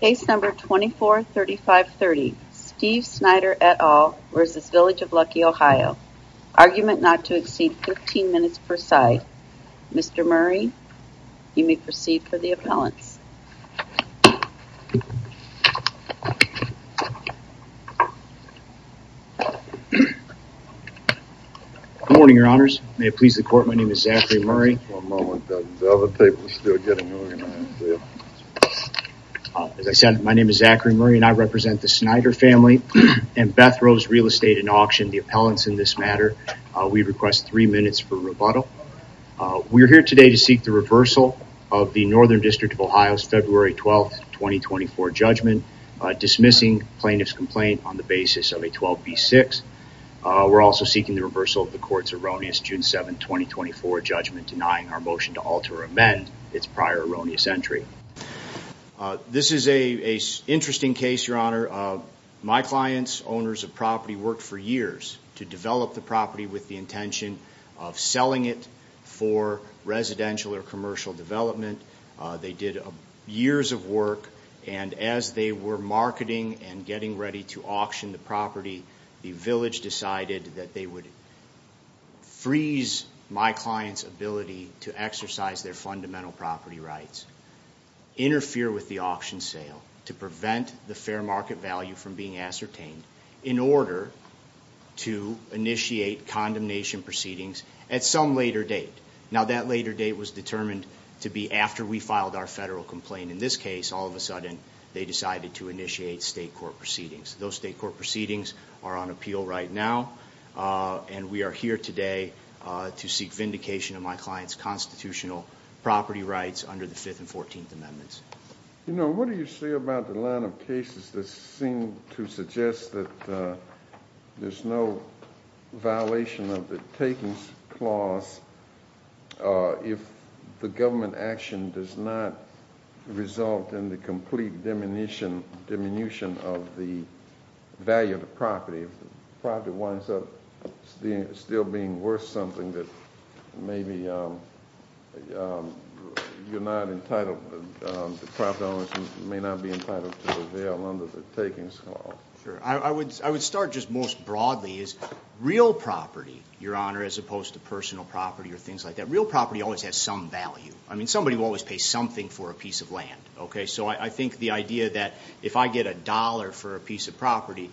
Case number 243530, Steve Snyder et al. v. Village of Luckey OH Argument not to exceed 15 minutes per side Mr. Murray, you may proceed for the appellants Good morning your honors, may it please the court, my name is Zachary Murray As I said, my name is Zachary Murray and I represent the Snyder family and Beth Rose Real Estate and Auction, the appellants in this matter. We request three minutes for rebuttal. We are here today to seek the reversal of the Northern District of Ohio's February 12, 2024 judgment, dismissing plaintiff's complaint on the basis of a 12b6. We're also seeking the reversal of the court's erroneous June 7, 2024 judgment, denying our motion to alter or amend its prior erroneous entry. This is a interesting case, your honor. My clients, owners of property, worked for years to develop the property with the intention of selling it for residential or commercial development. They did years of work and as they were marketing and getting ready to auction the property, the village decided that they would freeze my client's ability to exercise their fundamental property rights, interfere with the auction sale to prevent the fair market value from being ascertained in order to initiate condemnation proceedings at some later date. Now that later date was determined to be after we filed our federal complaint. In this case, all of a sudden they decided to initiate state court proceedings. Those state court proceedings are on appeal right now and we are here today to seek vindication of my client's constitutional property rights under the 5th and 14th Amendments. You know, what do you say about the line of cases that seem to suggest that there's no violation of the takings clause if the government action does not result in the complete diminution of the value of the property? If the property winds up still being worth something that maybe you're not entitled, the property owners may not be entitled to avail under the takings clause. Sure, I would start just most broadly is real property, your honor, as opposed to personal property or things like that. Real property always has some value. I mean, somebody will always pay something for a piece of land, okay? So I think the idea that if I get a dollar for a piece of property,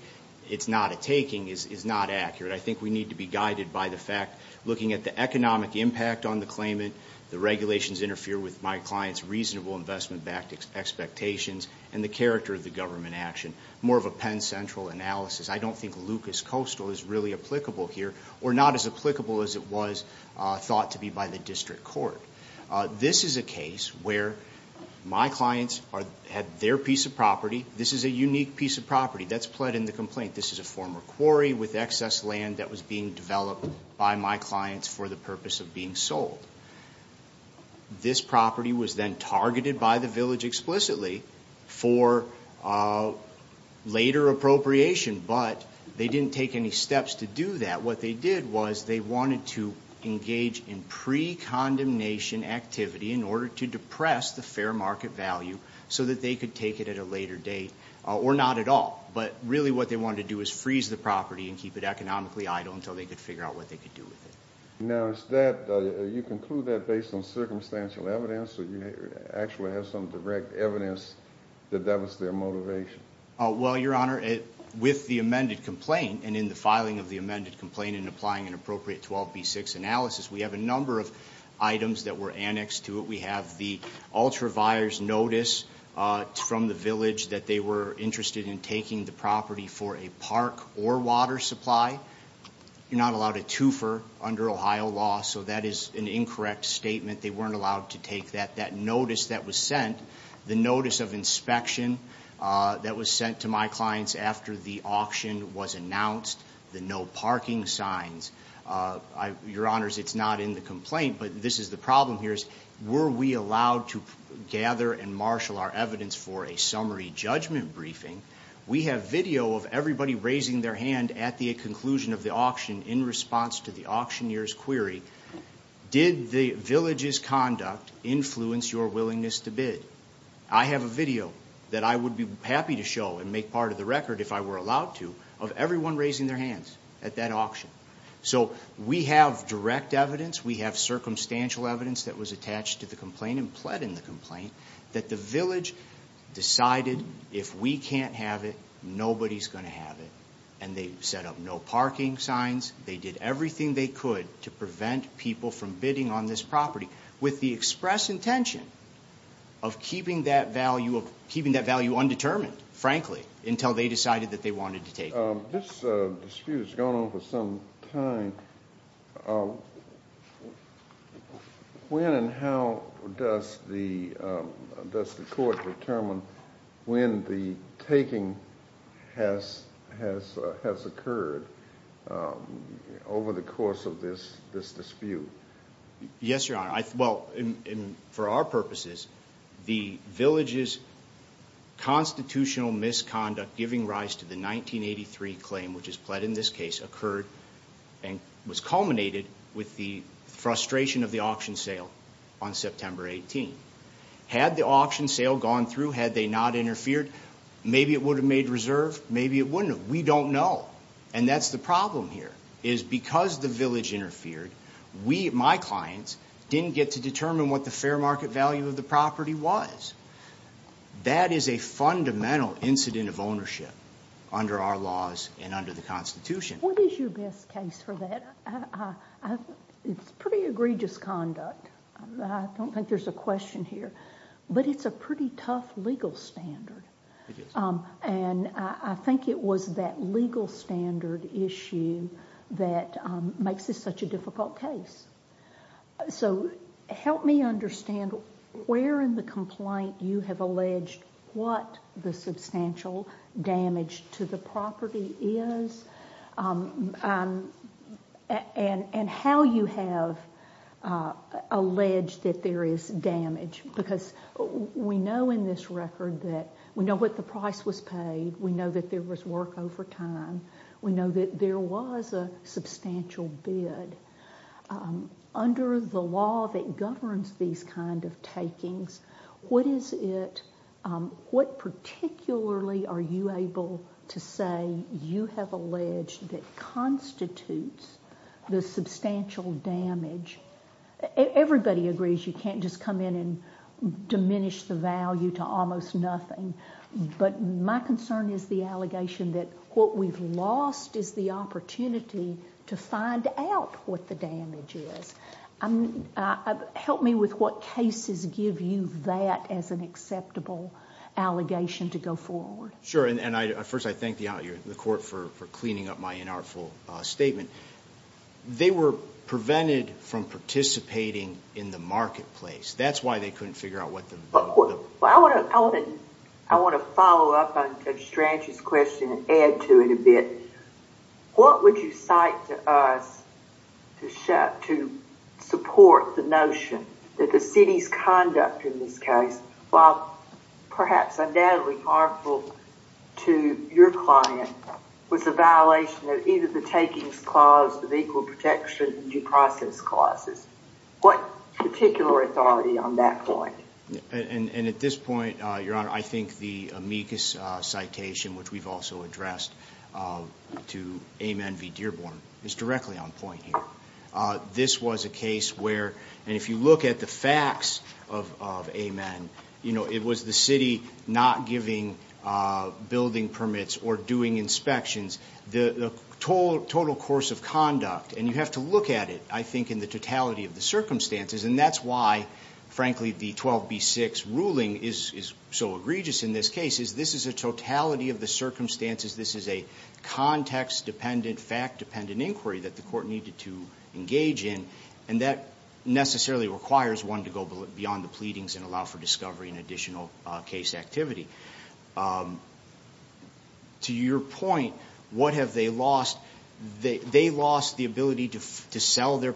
it's not a taking, is not accurate. I think we need to be guided by the fact, looking at the economic impact on the claimant, the regulations interfere with my client's reasonable investment-backed expectations, and the character of the government action. More of a Penn Central analysis. I don't think Lucas Coastal is really applicable here or not as where my clients had their piece of property. This is a unique piece of property that's pled in the complaint. This is a former quarry with excess land that was being developed by my clients for the purpose of being sold. This property was then targeted by the village explicitly for later appropriation, but they didn't take any steps to do that. What they did was they wanted to engage in pre-condemnation activity in order to depress the fair market value so that they could take it at a later date, or not at all. But really what they wanted to do is freeze the property and keep it economically idle until they could figure out what they could do with it. Now, you conclude that based on circumstantial evidence, or you actually have some direct evidence that that was their motivation? Well, Your Honor, with the amended complaint, and in the filing of the analysis, we have a number of items that were annexed to it. We have the ultraviar's notice from the village that they were interested in taking the property for a park or water supply. You're not allowed a twofer under Ohio law, so that is an incorrect statement. They weren't allowed to take that. That notice that was sent, the notice of inspection that was sent to my clients after the auction was announced, the no parking signs. Your Honor, it's not in the complaint, but this is the problem here. Were we allowed to gather and marshal our evidence for a summary judgment briefing? We have video of everybody raising their hand at the conclusion of the auction in response to the auctioneer's query, did the village's conduct influence your willingness to bid? I have a video that I would be happy to show and make part of the record if I were allowed to, of everyone raising their hands at that auction. So we have direct evidence, we have circumstantial evidence that was attached to the complaint and pled in the complaint, that the village decided if we can't have it, nobody's gonna have it. And they set up no parking signs, they did everything they could to prevent people from bidding on this property with the express intention of keeping that value undetermined, frankly, until they decided that they wanted to take it. This dispute has gone on for some time. When and how does the court determine when the taking has occurred over the course of this dispute? Yes, Your Honor. Well, for our purposes, the village's constitutional misconduct giving rise to the 1983 claim, which is pled in this case, occurred and was culminated with the frustration of the auction sale on September 18. Had the auction sale gone through, had they not interfered, maybe it would have made reserve, maybe it wouldn't have. We don't know. And that's the problem here, is because the village interfered, we, my clients, didn't get to determine what the fair market value of the property was. That is a fundamental incident of ownership under our laws and under the Constitution. What is your best case for that? It's pretty egregious conduct. I don't think there's a question here. But it's a pretty tough legal standard. And I think it was that legal standard issue that makes this such a difficult case. So help me understand where in the complaint you have alleged what the substantial damage to the property is and how you have alleged that there is damage, because we know in this record that we know what the price was paid we know that there was work over time, we know that there was a substantial bid. Under the law that governs these kind of takings, what is it, what particularly are you able to say you have alleged that constitutes the substantial damage? Everybody agrees you can't just come in and diminish the value to almost nothing, but my concern is the allegation that what we've lost is the opportunity to find out what the damage is. Help me with what cases give you that as an acceptable allegation to go forward. Sure, and I first I thank the court for cleaning up my inartful statement. They were prevented from participating in the marketplace. That's why they couldn't figure out what the... I want to follow up on Judge Strange's question and add to it a bit. What would you cite to us to support the notion that the city's conduct in this case, while perhaps undoubtedly harmful to your client, was a violation of either the takings clause or the equal protection due process clauses? What particular authority on that point? And at this point, your honor, I think the amicus citation, which we've also addressed to Amen v. Dearborn, is directly on point here. This was a case where, and if you look at the facts of Amen, you know, it was the city not giving building permits or doing inspections. The total course of conduct, and you have to look at it, I mean the totality of the circumstances, and that's why, frankly, the 12b6 ruling is so egregious in this case, is this is a totality of the circumstances. This is a context-dependent, fact-dependent inquiry that the court needed to engage in, and that necessarily requires one to go beyond the pleadings and allow for discovery and additional case activity. To your point, what have they What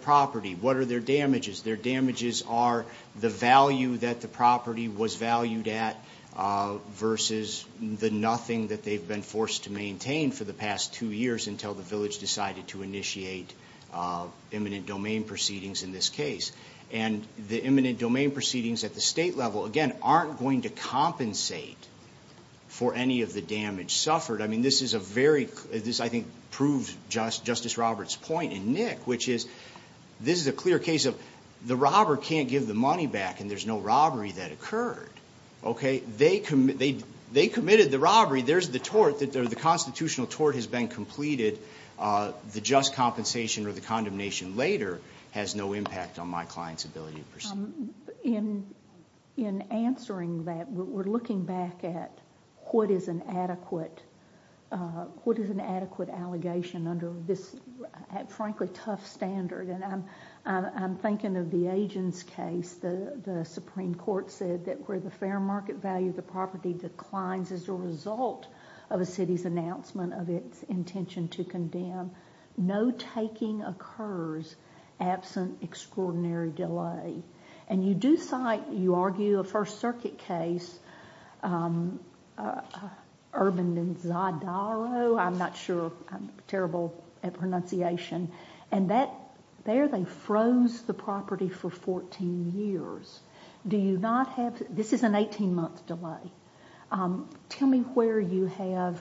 are their damages? Their damages are the value that the property was valued at versus the nothing that they've been forced to maintain for the past two years until the village decided to initiate imminent domain proceedings in this case. And the imminent domain proceedings at the state level, again, aren't going to compensate for any of the damage suffered. I mean, this is a very, this I think proves Justice Roberts' point in Nick, which is this is a clear case of the robber can't give the money back and there's no robbery that occurred, okay? They committed the robbery, there's the tort, the constitutional tort has been completed, the just compensation or the condemnation later has no impact on my client's ability to proceed. In answering that, we're looking back at what is an adequate allegation under this, frankly, tough standard. And I'm thinking of the Agins case. The Supreme Court said that where the fair market value of the property declines as a result of a city's announcement of its intention to condemn, no taking occurs absent extraordinary delay. And you do cite, you argue, a First Circuit case, Urban and Zadaro, I'm not sure, I'm terrible at pronunciation, and that, there they froze the property for 14 years. Do you not have, this is an 18-month delay. Tell me where you have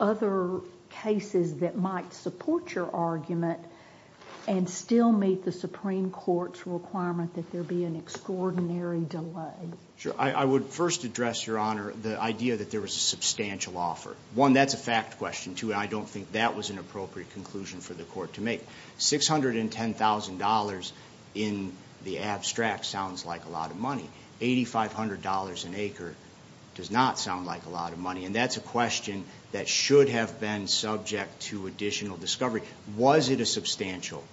other cases that might support your argument and still meet the Supreme Court's requirement that there be an extraordinary delay. Sure, I would first address, Your Honor, the idea that there was a substantial offer. One, that's a fact question. Two, I don't think that was an appropriate conclusion for the court to make. $610,000 in the abstract sounds like a lot of money. $8,500 an acre does not sound like a lot of money. And that's a question that should have been subject to additional discovery. Was it a substantial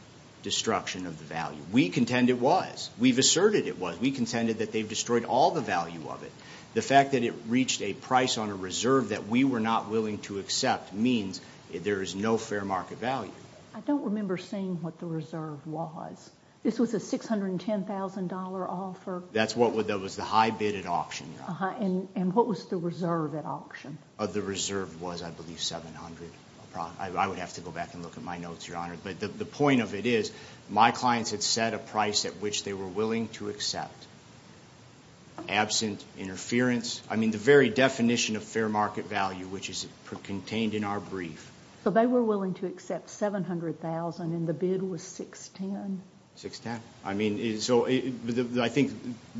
destruction of the value? We contend it was. We've asserted it was. We contended that they've destroyed all the value of it. The fact that it reached a price on a reserve that we were not willing to accept means there is no fair market value. I don't remember seeing what the reserve was. This was a $610,000 offer? That's what would, that was the high bid at auction. Uh-huh, and what was the reserve at auction? The reserve was, I believe, $2,700. I would have to go back and look at my notes, Your Honor. But the point of it is, my clients had set a price at which they were willing to accept, absent interference. I mean, the very definition of fair market value, which is contained in our brief. So they were willing to accept $700,000 and the bid was $610,000? $610,000. I mean, so I think,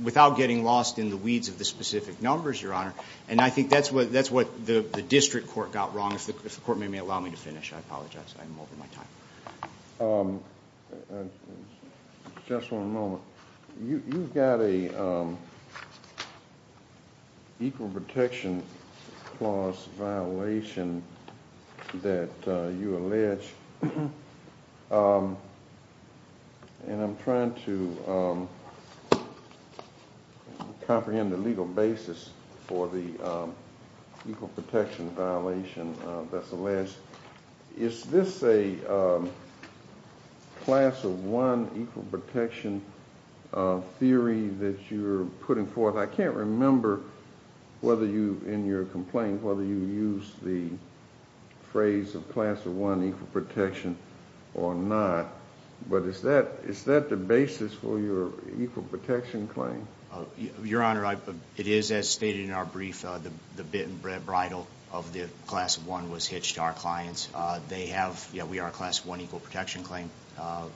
without getting lost in the weeds of the specific numbers, Your Honor, and I think that's what, that's what the District Court got wrong. If the Court may allow me to finish, I apologize, I'm over my time. Just one moment. You've got a Equal Protection Clause violation that you allege, and I'm trying to comprehend the legal basis for the Equal Protection violation that's alleged. Is this a Class of One Equal Protection theory that you're putting forth? I can't remember whether you, in your complaint, whether you use the phrase of Class of One Equal Protection or not, but is that, is that the basis for your Equal Protection claim? Your Honor, it is as stated in our brief, the bit and bridle of the Class of One was hitched to our clients. They have, yeah, we are a Class of One Equal Protection claim,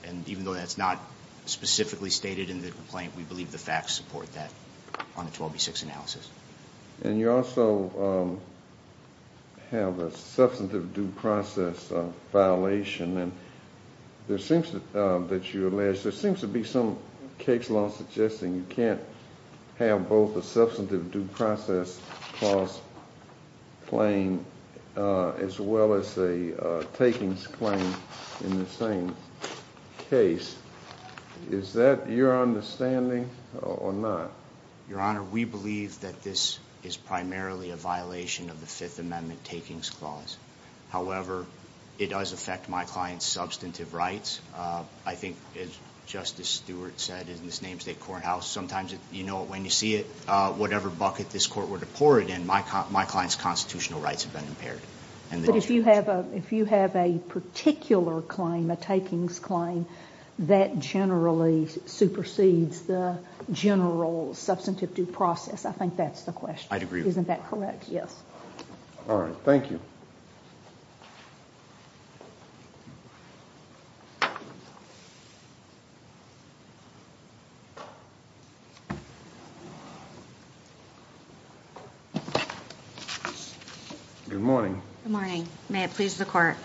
and even though that's not specifically stated in the complaint, we believe the facts support that on the 12B6 analysis. And you also have a substantive due process violation, and there seems to, that you allege, there seems to be some case law suggesting you can't have both a Substantive Due Process Clause claim as well as a Takings Claim in the same case. Is that your understanding or not? Your Honor, we believe that this is primarily a violation of the Fifth Amendment Takings Clause. However, it does affect my client's substantive rights. I think, as a courthouse, sometimes, you know, when you see it, whatever bucket this Court were to pour it in, my client's constitutional rights have been impaired. But if you have a, if you have a particular claim, a Takings Claim, that generally supersedes the general Substantive Due Process, I think that's the question. I'd agree with that. Isn't that correct? Yes. All right, thank you. Good morning. Good morning. May it please the Court.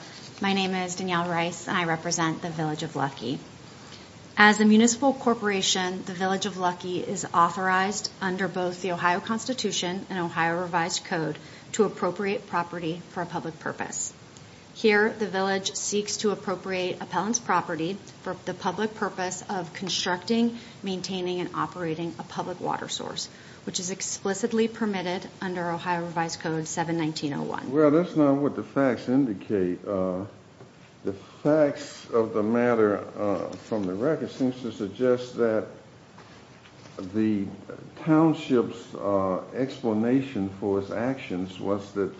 My name is Danielle Rice and I represent the Village of Lucky. As a municipal corporation, the Village of Lucky is authorized under both the Ohio Constitution and Ohio Revised Code to appropriate property for a public purpose. Here, the Village seeks to appropriate appellant's property for the public purpose of constructing, maintaining, and operating a public water source, which is explicitly permitted under Ohio Revised Code 71901. Well, that's not what the facts indicate. The facts of the matter from the record seems to suggest that the township's explanation for its actions was that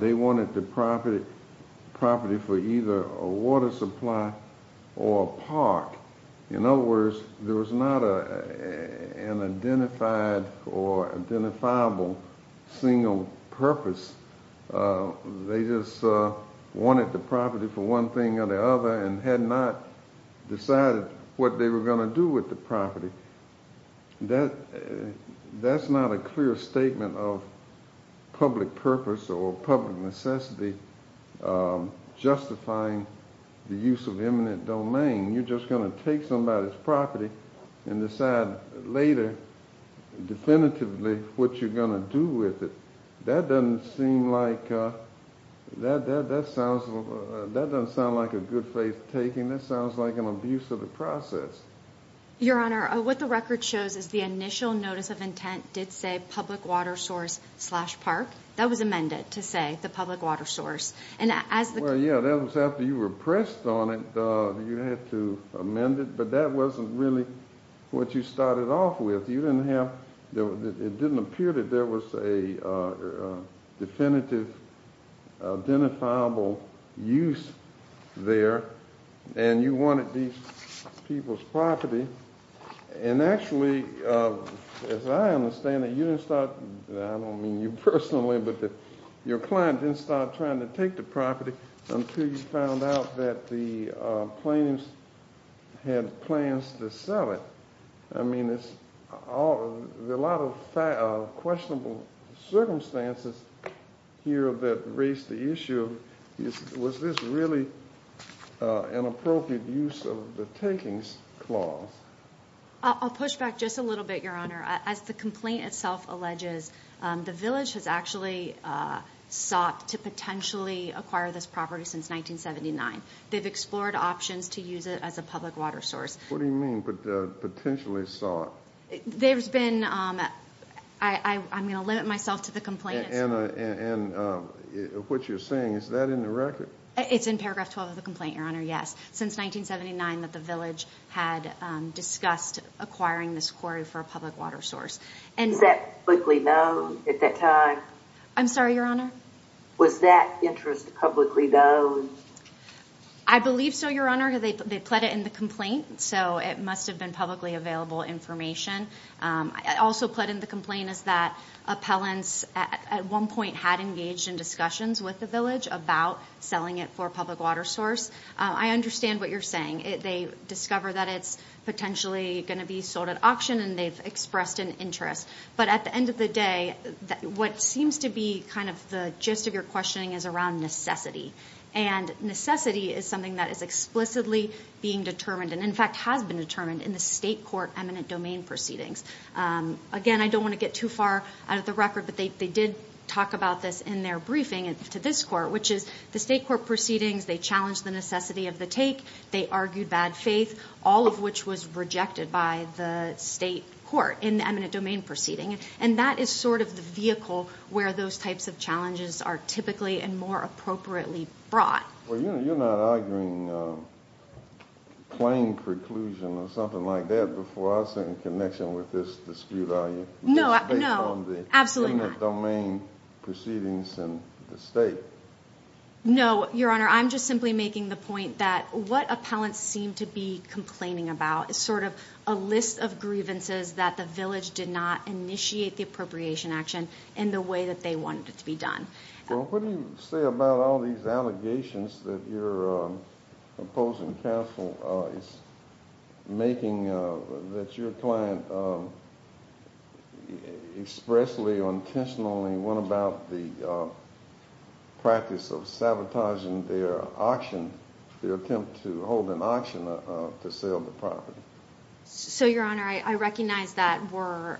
they wanted the property, property for either a water supply or a park. In other words, there was not an identified or identifiable single purpose. They just wanted the property for one thing or the other and had not decided what they were going to do with the property. That, that's not a clear statement of public purpose or public necessity justifying the use of eminent domain. You're just going to take somebody's property and decide later, definitively, what you're going to do with it. That doesn't seem like, that that sounds, that doesn't sound like a good faith taking. That sounds like an abuse of the process. Your Honor, what the record shows is the initial notice of intent did say public water source slash park. That was amended to say the public water source. And as the... Well, yeah, that was after you were pressed on it, you had to amend it, but that wasn't really what you started off with. You didn't have, it didn't appear that there was a definitive, identifiable use there, and you wanted these people's property. And actually, as I understand it, you didn't start, I don't mean you personally, but that your client didn't start trying to take the property until you found out that the plaintiffs had plans to sell it. I mean, it's all, there's a lot of questionable circumstances here that raised the issue of, was this really an appropriate use of the takings clause? I'll push back just a little bit, Your Honor. As the complaint itself alleges, the village has actually sought to potentially acquire this property since 1979. They've explored options to use it as a public water source. What do you mean, potentially sought? There's been, I'm gonna limit myself to the complaint itself. And what you're saying, is that in the record? It's in paragraph 12 of the complaint, Your Honor, yes. Since 1979 that the village had discussed acquiring this quarry for a public water source. Was that publicly known at that time? I'm sorry, Your Honor? Was that interest publicly known? I believe so, Your Honor. They pled it in the complaint, so it must have been publicly available information. Also pled in the complaint is that appellants at one point had engaged in discussions with the village about selling it for a public water source. I understand what you're saying. They discover that it's potentially going to be sold at auction and they've expressed an interest. But at the end of the day, what seems to be kind of the gist of your questioning is around necessity. And necessity is something that is explicitly being determined, and in fact has been determined, in the state court eminent domain proceedings. Again, I don't want to get too far out of the record, but they did talk about this in their briefing to this court, which is the state court proceedings, they challenged the necessity of the take, they argued bad faith, all of which was rejected by the state court in the eminent domain proceeding. And that is sort of the vehicle where those types of challenges are typically and more appropriately brought. Well, you're not arguing plain preclusion or something like that before I was in connection with this dispute, are you? No, absolutely not. No, Your Honor, I'm just simply making the point that what appellants seem to be complaining about is sort of a list of grievances that the village did not initiate the appropriation action in the way that they wanted it to be done. Well, what do you say about all these allegations that your opposing counsel is making that your client expressly or intentionally went about the practice of sabotaging their auction, their attempt to hold an auction to sell the property? So, Your Honor, I recognize that we're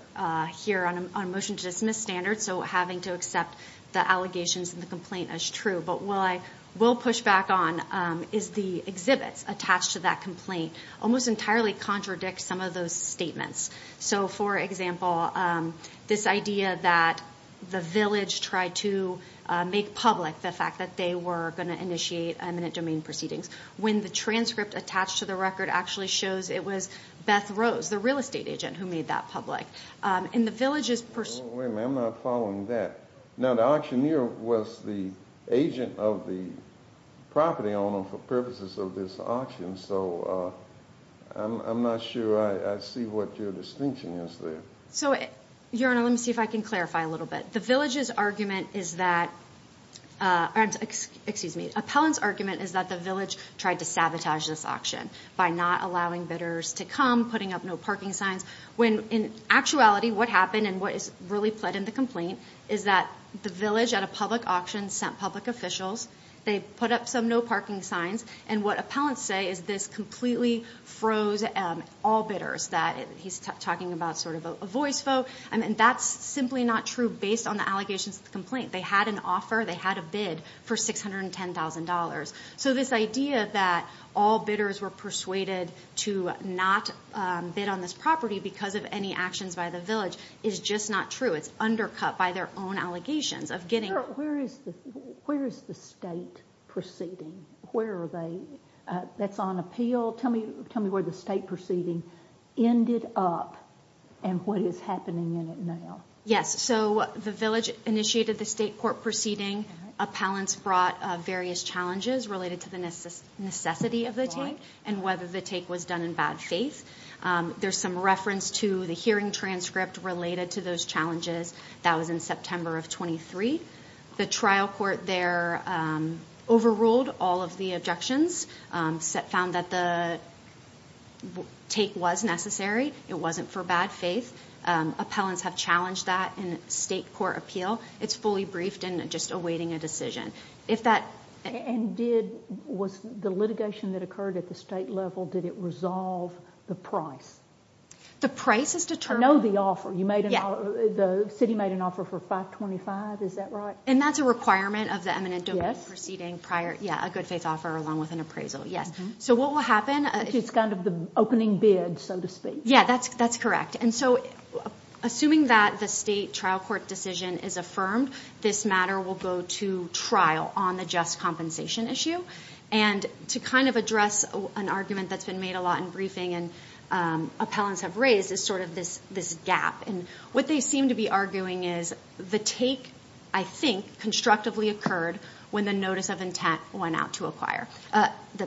here on a motion to dismiss standard, so having to accept the allegations and the complaint as true, but while I will push back on, is the exhibits attached to that complaint almost entirely contradict some of those statements. So, for example, this idea that the village tried to make public the fact that they were going to initiate eminent domain proceedings when the transcript attached to the record actually shows it was Beth Rose, the real estate agent, who made that public. And the village is pursuing... Wait a minute, I'm not following that. Now, the auctioneer was the agent of the property owner for purposes of this auction, so I'm not sure I see what your distinction is there. So, Your Honor, let me see if I can clarify a little bit. The village's argument is that, excuse me, appellant's argument is that the village tried to sabotage this auction by not allowing bidders to come, putting up no parking signs, when in actuality what happened and what is really put in the complaint is that the village at a public auction sent public officials, they put up some no parking signs, and what appellants say is this completely froze all bidders, that he's talking about sort of a voice vote, and that's simply not true based on the allegations of the complaint. They had an offer, they had a bid for $610,000. So this idea that all bidders were persuaded to not bid on this property because of any actions by the village is just not true. It's undercut by their own allegations of getting... Where is the state proceeding? Where are they? That's on appeal. Tell me where the state proceeding ended up and what is happening in it now. Yes, so the village initiated the state court proceeding. Appellants brought various challenges related to the necessity of the take and whether the take was done in bad faith. There's some reference to the hearing transcript related to those challenges. That was in September of 23. The trial court there overruled all of the objections, found that the take was necessary. It wasn't for bad faith. Appellants have challenged that in state court appeal. It's fully briefed and just awaiting a decision. If that... And did, was the litigation that occurred at the state level, did it resolve the price? The price is determined... I know the offer. You made an offer. The city made an offer for $525,000, is that right? And that's a requirement of the eminent domain proceeding prior... Yeah, a good faith offer along with an appraisal, yes. So what will happen... It's kind of the opening bid, so to speak. Yeah, that's correct. And so assuming that the state trial court decision is affirmed, this matter will go to trial on the just compensation issue. And to kind of address an argument that's been made a lot in briefing and appellants have raised is sort of this gap. And what they seem to be arguing is the take, I think, constructively occurred when the notice of intent went out to acquire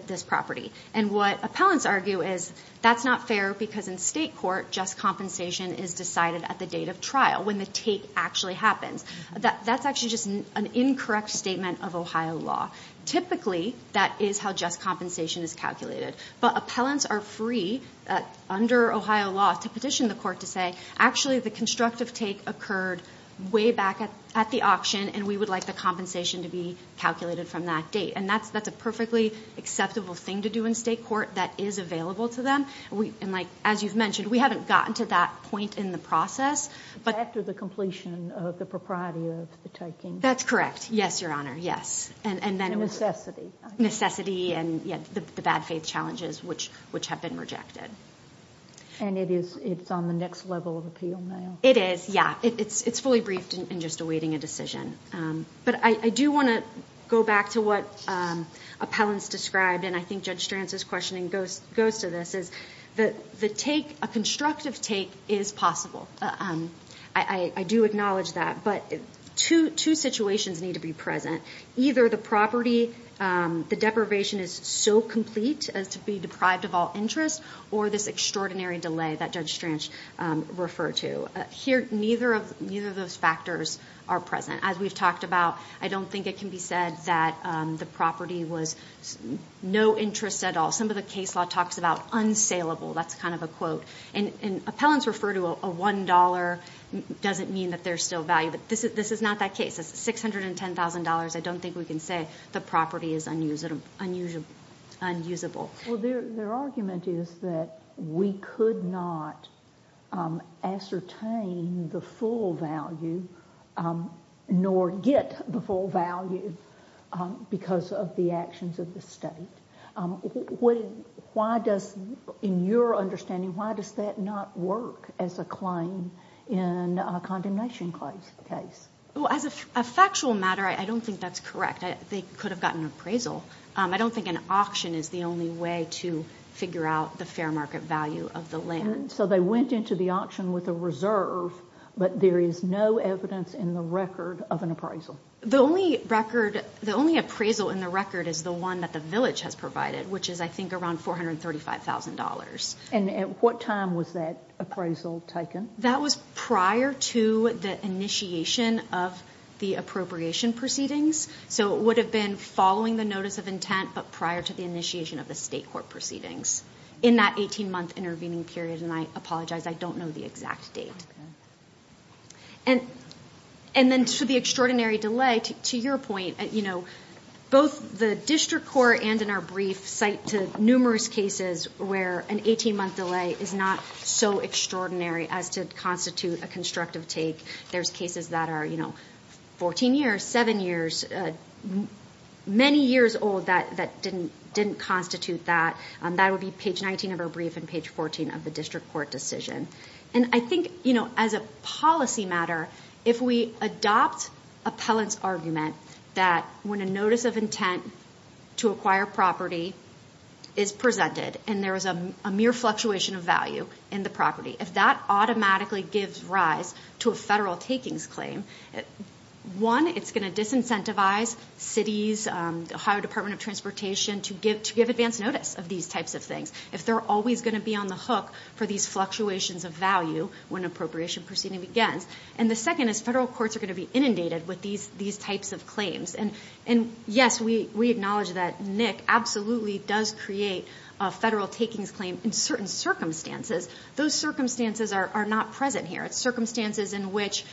this property. And what appellants argue is that's not fair because in state court, just compensation is decided at the date of trial, when the take actually happens. That's actually just an incorrect statement of Ohio law. Typically, that is how just compensation is calculated. But appellants are free under Ohio law to petition the court to say, actually the constructive take occurred way back at the auction and we would like the compensation to be calculated from that date. And that's that's a perfectly acceptable thing to do in state court that is available to them. And like, as you've mentioned, we haven't gotten to that point in the process. But after the completion of the propriety of the taking. That's correct. Yes, Your Honor. Yes. And then necessity. Necessity and the bad faith challenges which which have been rejected. And it is it's on the next level of appeal now. It is. Yeah, it's it's fully briefed and just awaiting a decision. But I do want to go back to what appellants described. And I think Judge Stranz's questioning goes to this, is that the take, a constructive take, is possible. I do acknowledge that. But two situations need to be present. Either the property, the deprivation is so complete as to be deprived of all interest, or this extraordinary delay that Judge Stranz referred to. Here, neither of neither of those factors are present. As we've talked about, I don't think it can be said that the property was no interest at all. Some of the case law talks about unsaleable. That's kind of a quote. And appellants refer to a $1.00, doesn't mean that there's still value. But this is this is not that case. It's $610,000. I don't think we can say the property is unusable. Well, their argument is that we could not ascertain the full value, nor get the full value, because of the actions of the state. Why does, in your understanding, why does that not work as a claim in a condemnation case? Well, as a factual matter, I don't think that's correct. They could have gotten appraisal. I don't think an auction is the only way to figure out the fair market value of the land. So they went into the auction with a reserve, but there is no evidence in the record of an appraisal. The only record, the only appraisal in the record is the one that the village has provided, which is, I think, around $435,000. And at what time was that appraisal taken? That was prior to the initiation of the appropriation proceedings. So it would have been following the notice of intent, but prior to the initiation of the state court proceedings, in that 18-month intervening period. And I apologize, I don't know the exact date. And then to the extraordinary delay, to your point, both the district court and in our brief cite to numerous cases where an 18-month delay is not so extraordinary as to constitute a constructive take. There's cases that are 14 years, 7 years, many years old that didn't constitute that. That would be page 19 of our brief and page 14 of the district court decision. And I think, as a policy matter, if we adopt appellant's argument that when a notice of intent to acquire property is presented and there is a mere fluctuation of value in the property, if that automatically gives rise to a federal takings claim, one, it's going to disincentivize cities, the Ohio Department of Transportation, to give advance notice of these types of things. If they're always going to be on the hook for these fluctuations of value when appropriation proceeding begins. And the second is federal courts are going to be inundated with these types of claims. And yes, we acknowledge that NIC absolutely does create a federal takings claim in certain circumstances. Those circumstances are not present here. It's circumstances in which,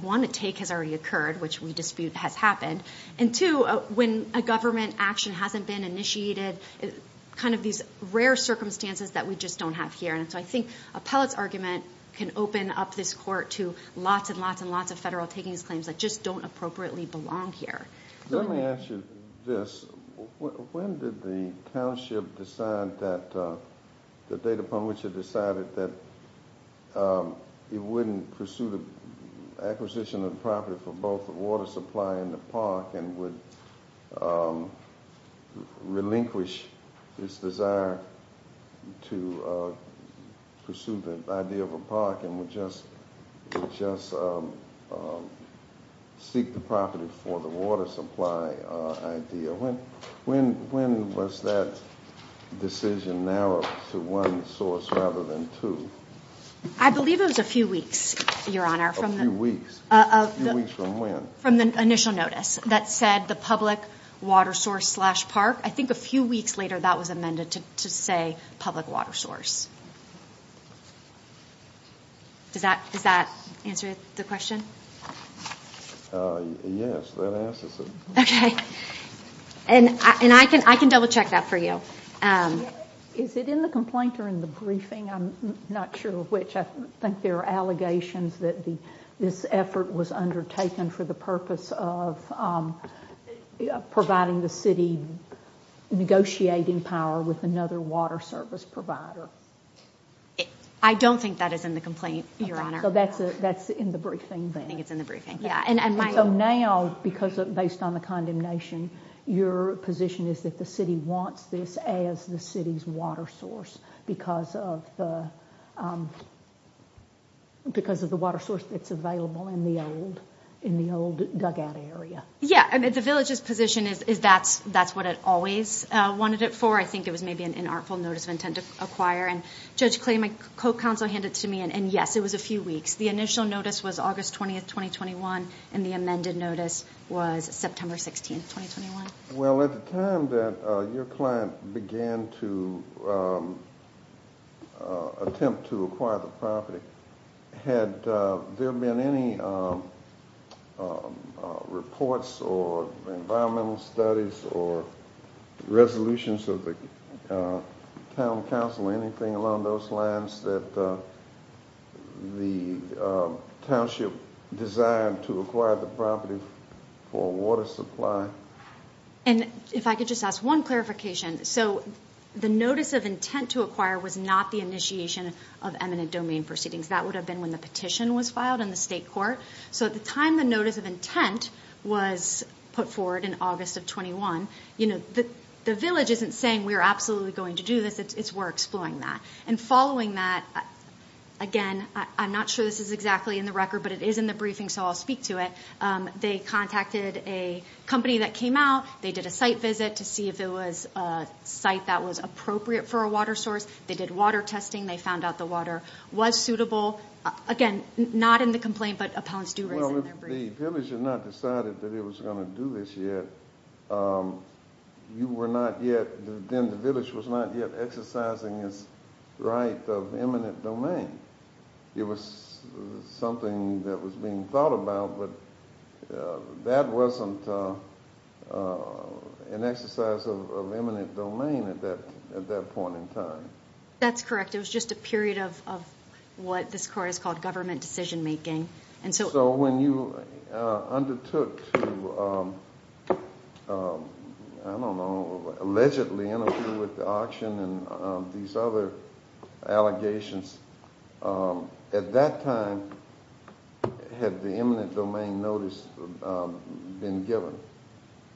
one, a take has already occurred, which we dispute has happened. And two, when a government action hasn't been initiated, kind of these rare circumstances that we just don't have here. And so I think appellant's argument can open up this court to lots and lots and lots of federal takings claims that just don't appropriately belong here. Let me ask you this. When did the township decide that, the date upon which it decided that it wouldn't pursue the acquisition of the property for both water supply and the park, and would relinquish its desire to pursue the idea of a park and would just seek the property for the water supply idea? When was that decision narrowed to one source rather than two? I believe it was a few weeks, Your Honor. A few weeks. A few weeks from when? From the initial notice that said the public water source slash park. I think a few weeks later that was amended to say public water source. Does that answer the question? Yes, that answers it. Okay. And I can double check that for you. Is it in the complaint or in the briefing? I'm not sure which. I think there are allegations that this effort was undertaken for the purpose of providing the city negotiating power with another water service provider. I don't think that is in the complaint, Your Honor. So that's in the briefing then? I think it's in the briefing, yeah. And so now, based on the condemnation, your position is that the city wants this as the city's water source because of the water source that's available in the old dugout area? Yeah. The village's position is that's what it always wanted it for. I think it was maybe an inartful notice of intent to acquire. Judge Clay, my co-counsel, handed it to me, and yes, it was a few weeks. The initial notice was August 20th, 2021, and the amended notice was September 16th, 2021. Well, at the time that your client began to attempt to acquire the property, had there been any reports or environmental studies or resolutions of the town council or anything along those lines that the township desired to acquire the property for water supply? And if I could just ask one clarification. So the notice of intent to acquire was not the initiation of eminent domain proceedings. That would have been when the petition was filed in the state court. So at the time the notice of intent was put forward in August of 21, the village isn't saying we're absolutely going to do this. It's we're exploring that. And following that, again, I'm not sure this is exactly in the record, but it is in the briefing, so I'll speak to it. They contacted a company that came out. They did a site visit to see if it was a site that was appropriate for a water source. They did water testing. They found out the water was suitable. Again, not in the complaint, but appellants do raise it in their briefing. Well, if the village had not decided that it was going to do this yet, you were not yet, then the village was not yet exercising its right of eminent domain. It was something that was being thought about, but that wasn't an exercise of eminent domain at that point in time. That's correct. It was just a period of what this court has called government decision-making. So when you undertook to, I don't know, allegedly interfere with the auction and these other allegations, at that time, had the eminent domain notice been given?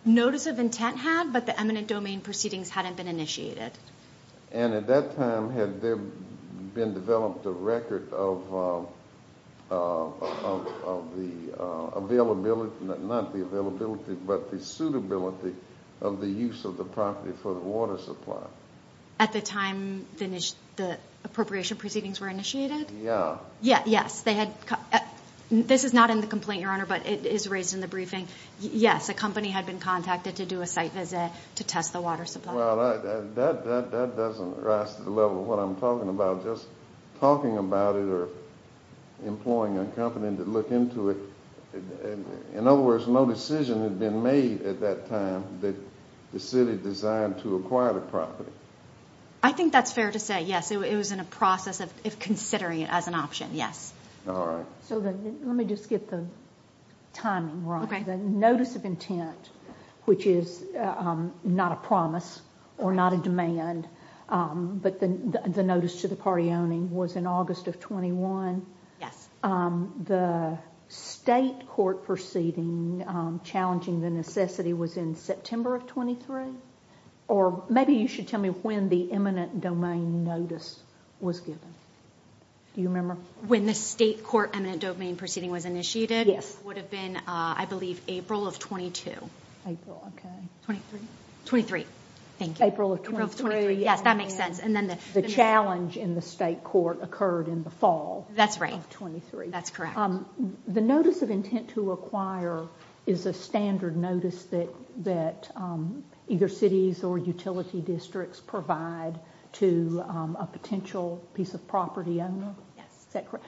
Notice of intent had, but the eminent domain proceedings hadn't been initiated. And at that time, had there been developed a record of the availability, not the availability, but the suitability of the use of the property for the water supply? At the time the appropriation proceedings were initiated? Yeah. Yes, they had, this is not in the complaint, Your Honor, but it is raised in the briefing. Yes, a company had been contacted to do a site visit to test the water supply. Well, that doesn't rise to the level of what I'm talking about. Just talking about it or employing a company to look into it, in other words, no decision had been made at that time that the city designed to acquire the property. I think that's fair to say, yes. It was in a process of considering it as an option, yes. All right. So let me just get the timing right. The notice of intent, which is not a promise or not a demand, but the notice to the party owning was in August of 1921. Yes. The state court proceeding challenging the necessity was in September of 1923? Or maybe you should tell me when the eminent domain notice was given. Do you remember? When the state court eminent domain proceeding was initiated? Yes. It would have been, I believe, April of 1922. April, okay. 1923. 1923. Thank you. April of 1923. April of 1923, yes, that makes sense. The challenge in the state court occurred in the fall of 1923. That's correct. The notice of intent to acquire is a standard notice that either cities or utility districts provide to a potential piece of property owner? Yes. Is that correct?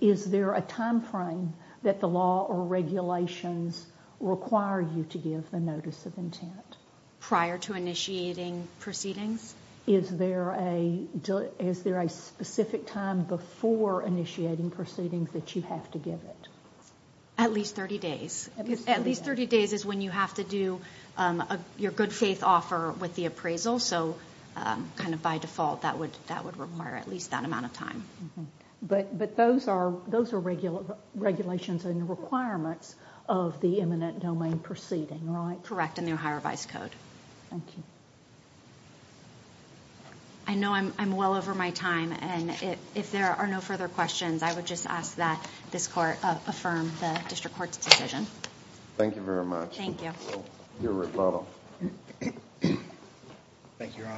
Is there a time frame that the law or regulations require you to give the notice of intent? Prior to initiating proceedings? Is there a specific time before initiating proceedings that you have to give it? At least 30 days. At least 30 days. At least 30 days is when you have to do your good faith offer with the appraisal. So kind of by default, that would require at least that amount of time. But those are regulations and requirements of the eminent domain proceeding, right? Correct. In the Ohio Revised Code. Thank you. I know I'm well over my time and if there are no further questions, I would just ask that this court affirm the district court's decision. Thank you very much. Thank you. Your rebuttal. Thank you, Your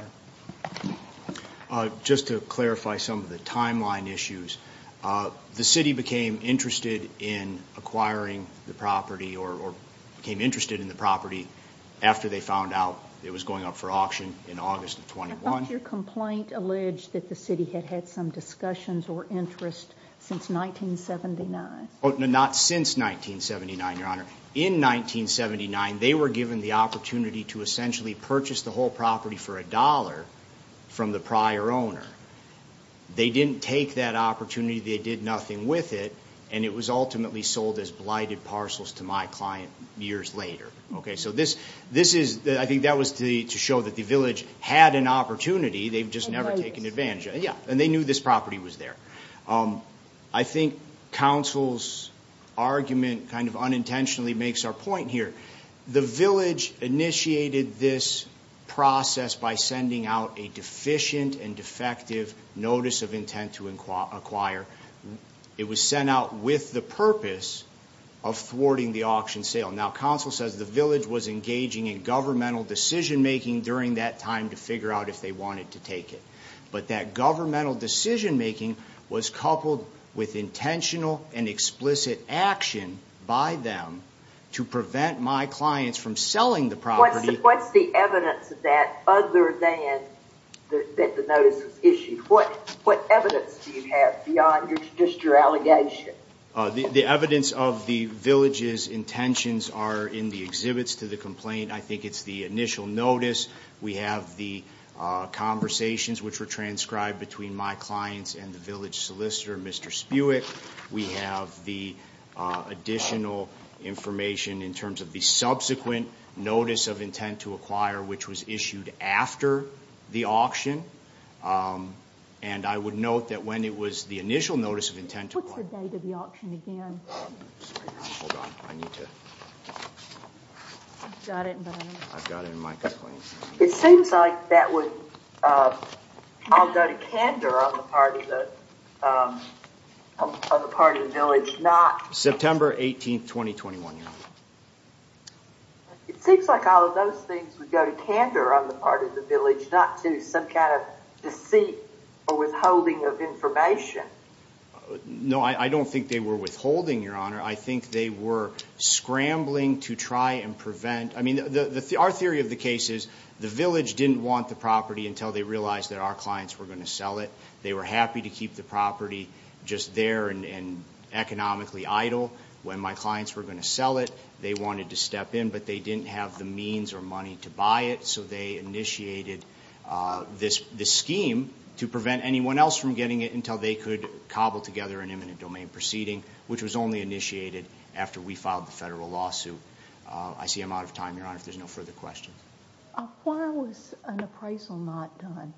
Honor. Just to clarify some of the timeline issues, the city became interested in acquiring the property or became interested in the property after they found out it was going up for auction in August of 21. I thought your complaint alleged that the city had had some discussions or interest since 1979. Not since 1979, Your Honor. In 1979, they were given the opportunity to essentially purchase the whole property for a dollar from the prior owner. They didn't take that opportunity. They did nothing with it and it was ultimately sold as blighted parcels to my client years later. I think that was to show that the village had an opportunity, they've just never taken advantage of it and they knew this property was there. I think counsel's argument kind of unintentionally makes our point here. The village initiated this process by sending out a deficient and defective notice of intent to acquire. It was sent out with the purpose of thwarting the auction sale. Now, counsel says the village was engaging in governmental decision-making during that time to figure out if they wanted to take it. But that governmental decision-making was coupled with intentional and explicit action by them to prevent my clients from selling the property. What's the evidence of that other than that the notice was issued? What evidence do you have beyond just your allegation? The evidence of the village's intentions are in the exhibits to the complaint. I think it's the initial notice. We have the conversations which were transcribed between my clients and the village solicitor, Mr. Spiewak. We have the additional information in terms of the subsequent notice of intent to acquire, which was issued after the auction. And I would note that when it was the initial notice of intent to acquire- What's the date of the auction again? Sorry, hold on, I need to- I've got it in my complaint. It seems like that would, I'll go to candor on the part of the village, not- September 18th, 2021, Your Honor. It seems like all of those things would go to candor on the part of the village, not to some kind of deceit or withholding of information. No, I don't think they were withholding, Your Honor. I think they were scrambling to try and prevent. I mean, our theory of the case is the village didn't want the property until they realized that our clients were going to sell it. They were happy to keep the property just there and economically idle. When my clients were going to sell it, they wanted to step in, but they didn't have the means or money to buy it. So they initiated this scheme to prevent anyone else from getting it until they could cobble together an imminent domain proceeding, which was only initiated after we filed the federal lawsuit. I see I'm out of time, Your Honor, if there's no further questions. Why was an appraisal not done?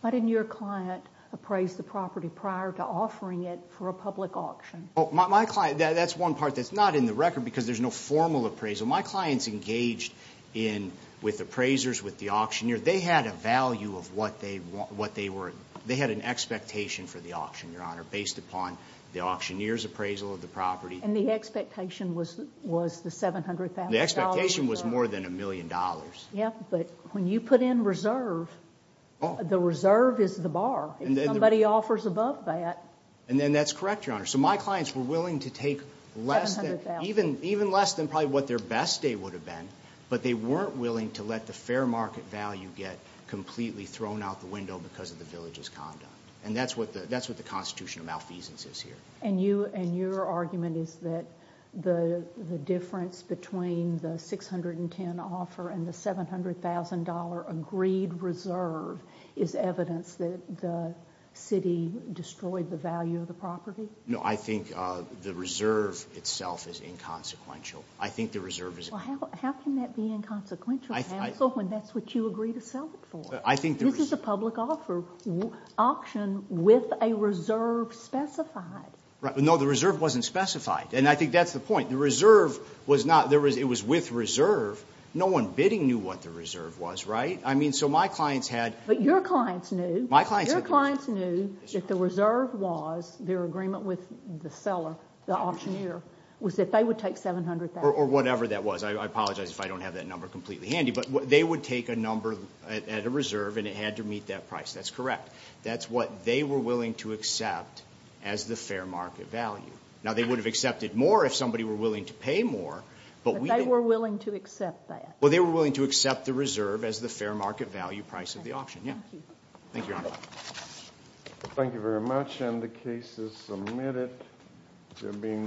Why didn't your client appraise the property prior to offering it for a public auction? My client, that's one part that's not in the record because there's no formal appraisal. So my clients engaged in, with appraisers, with the auctioneer. They had a value of what they were, they had an expectation for the auction, Your Honor, based upon the auctioneer's appraisal of the property. And the expectation was the $700,000 reserve. The expectation was more than a million dollars. Yeah, but when you put in reserve, the reserve is the bar. And then- If somebody offers above that. And then that's correct, Your Honor. So my clients were willing to take less than- Even less than probably what their best day would have been, but they weren't willing to let the fair market value get completely thrown out the window because of the village's conduct, and that's what the Constitution of malfeasance is here. And your argument is that the difference between the 610 offer and the $700,000 agreed reserve is evidence that the city destroyed the value of the property? No, I think the reserve itself is inconsequential. I think the reserve is- Well, how can that be inconsequential, counsel, when that's what you agree to sell it for? I think the- This is a public offer, auction with a reserve specified. Right, but no, the reserve wasn't specified. And I think that's the point. The reserve was not, it was with reserve. No one bidding knew what the reserve was, right? I mean, so my clients had- But your clients knew. My clients had- My clients knew that the reserve was, their agreement with the seller, the auctioneer, was that they would take $700,000. Or whatever that was. I apologize if I don't have that number completely handy. But they would take a number at a reserve, and it had to meet that price. That's correct. That's what they were willing to accept as the fair market value. Now, they would have accepted more if somebody were willing to pay more, but we- But they were willing to accept that. Well, they were willing to accept the reserve as the fair market value price of the auction, yeah. Thank you, Your Honor. Thank you very much, and the case is submitted to being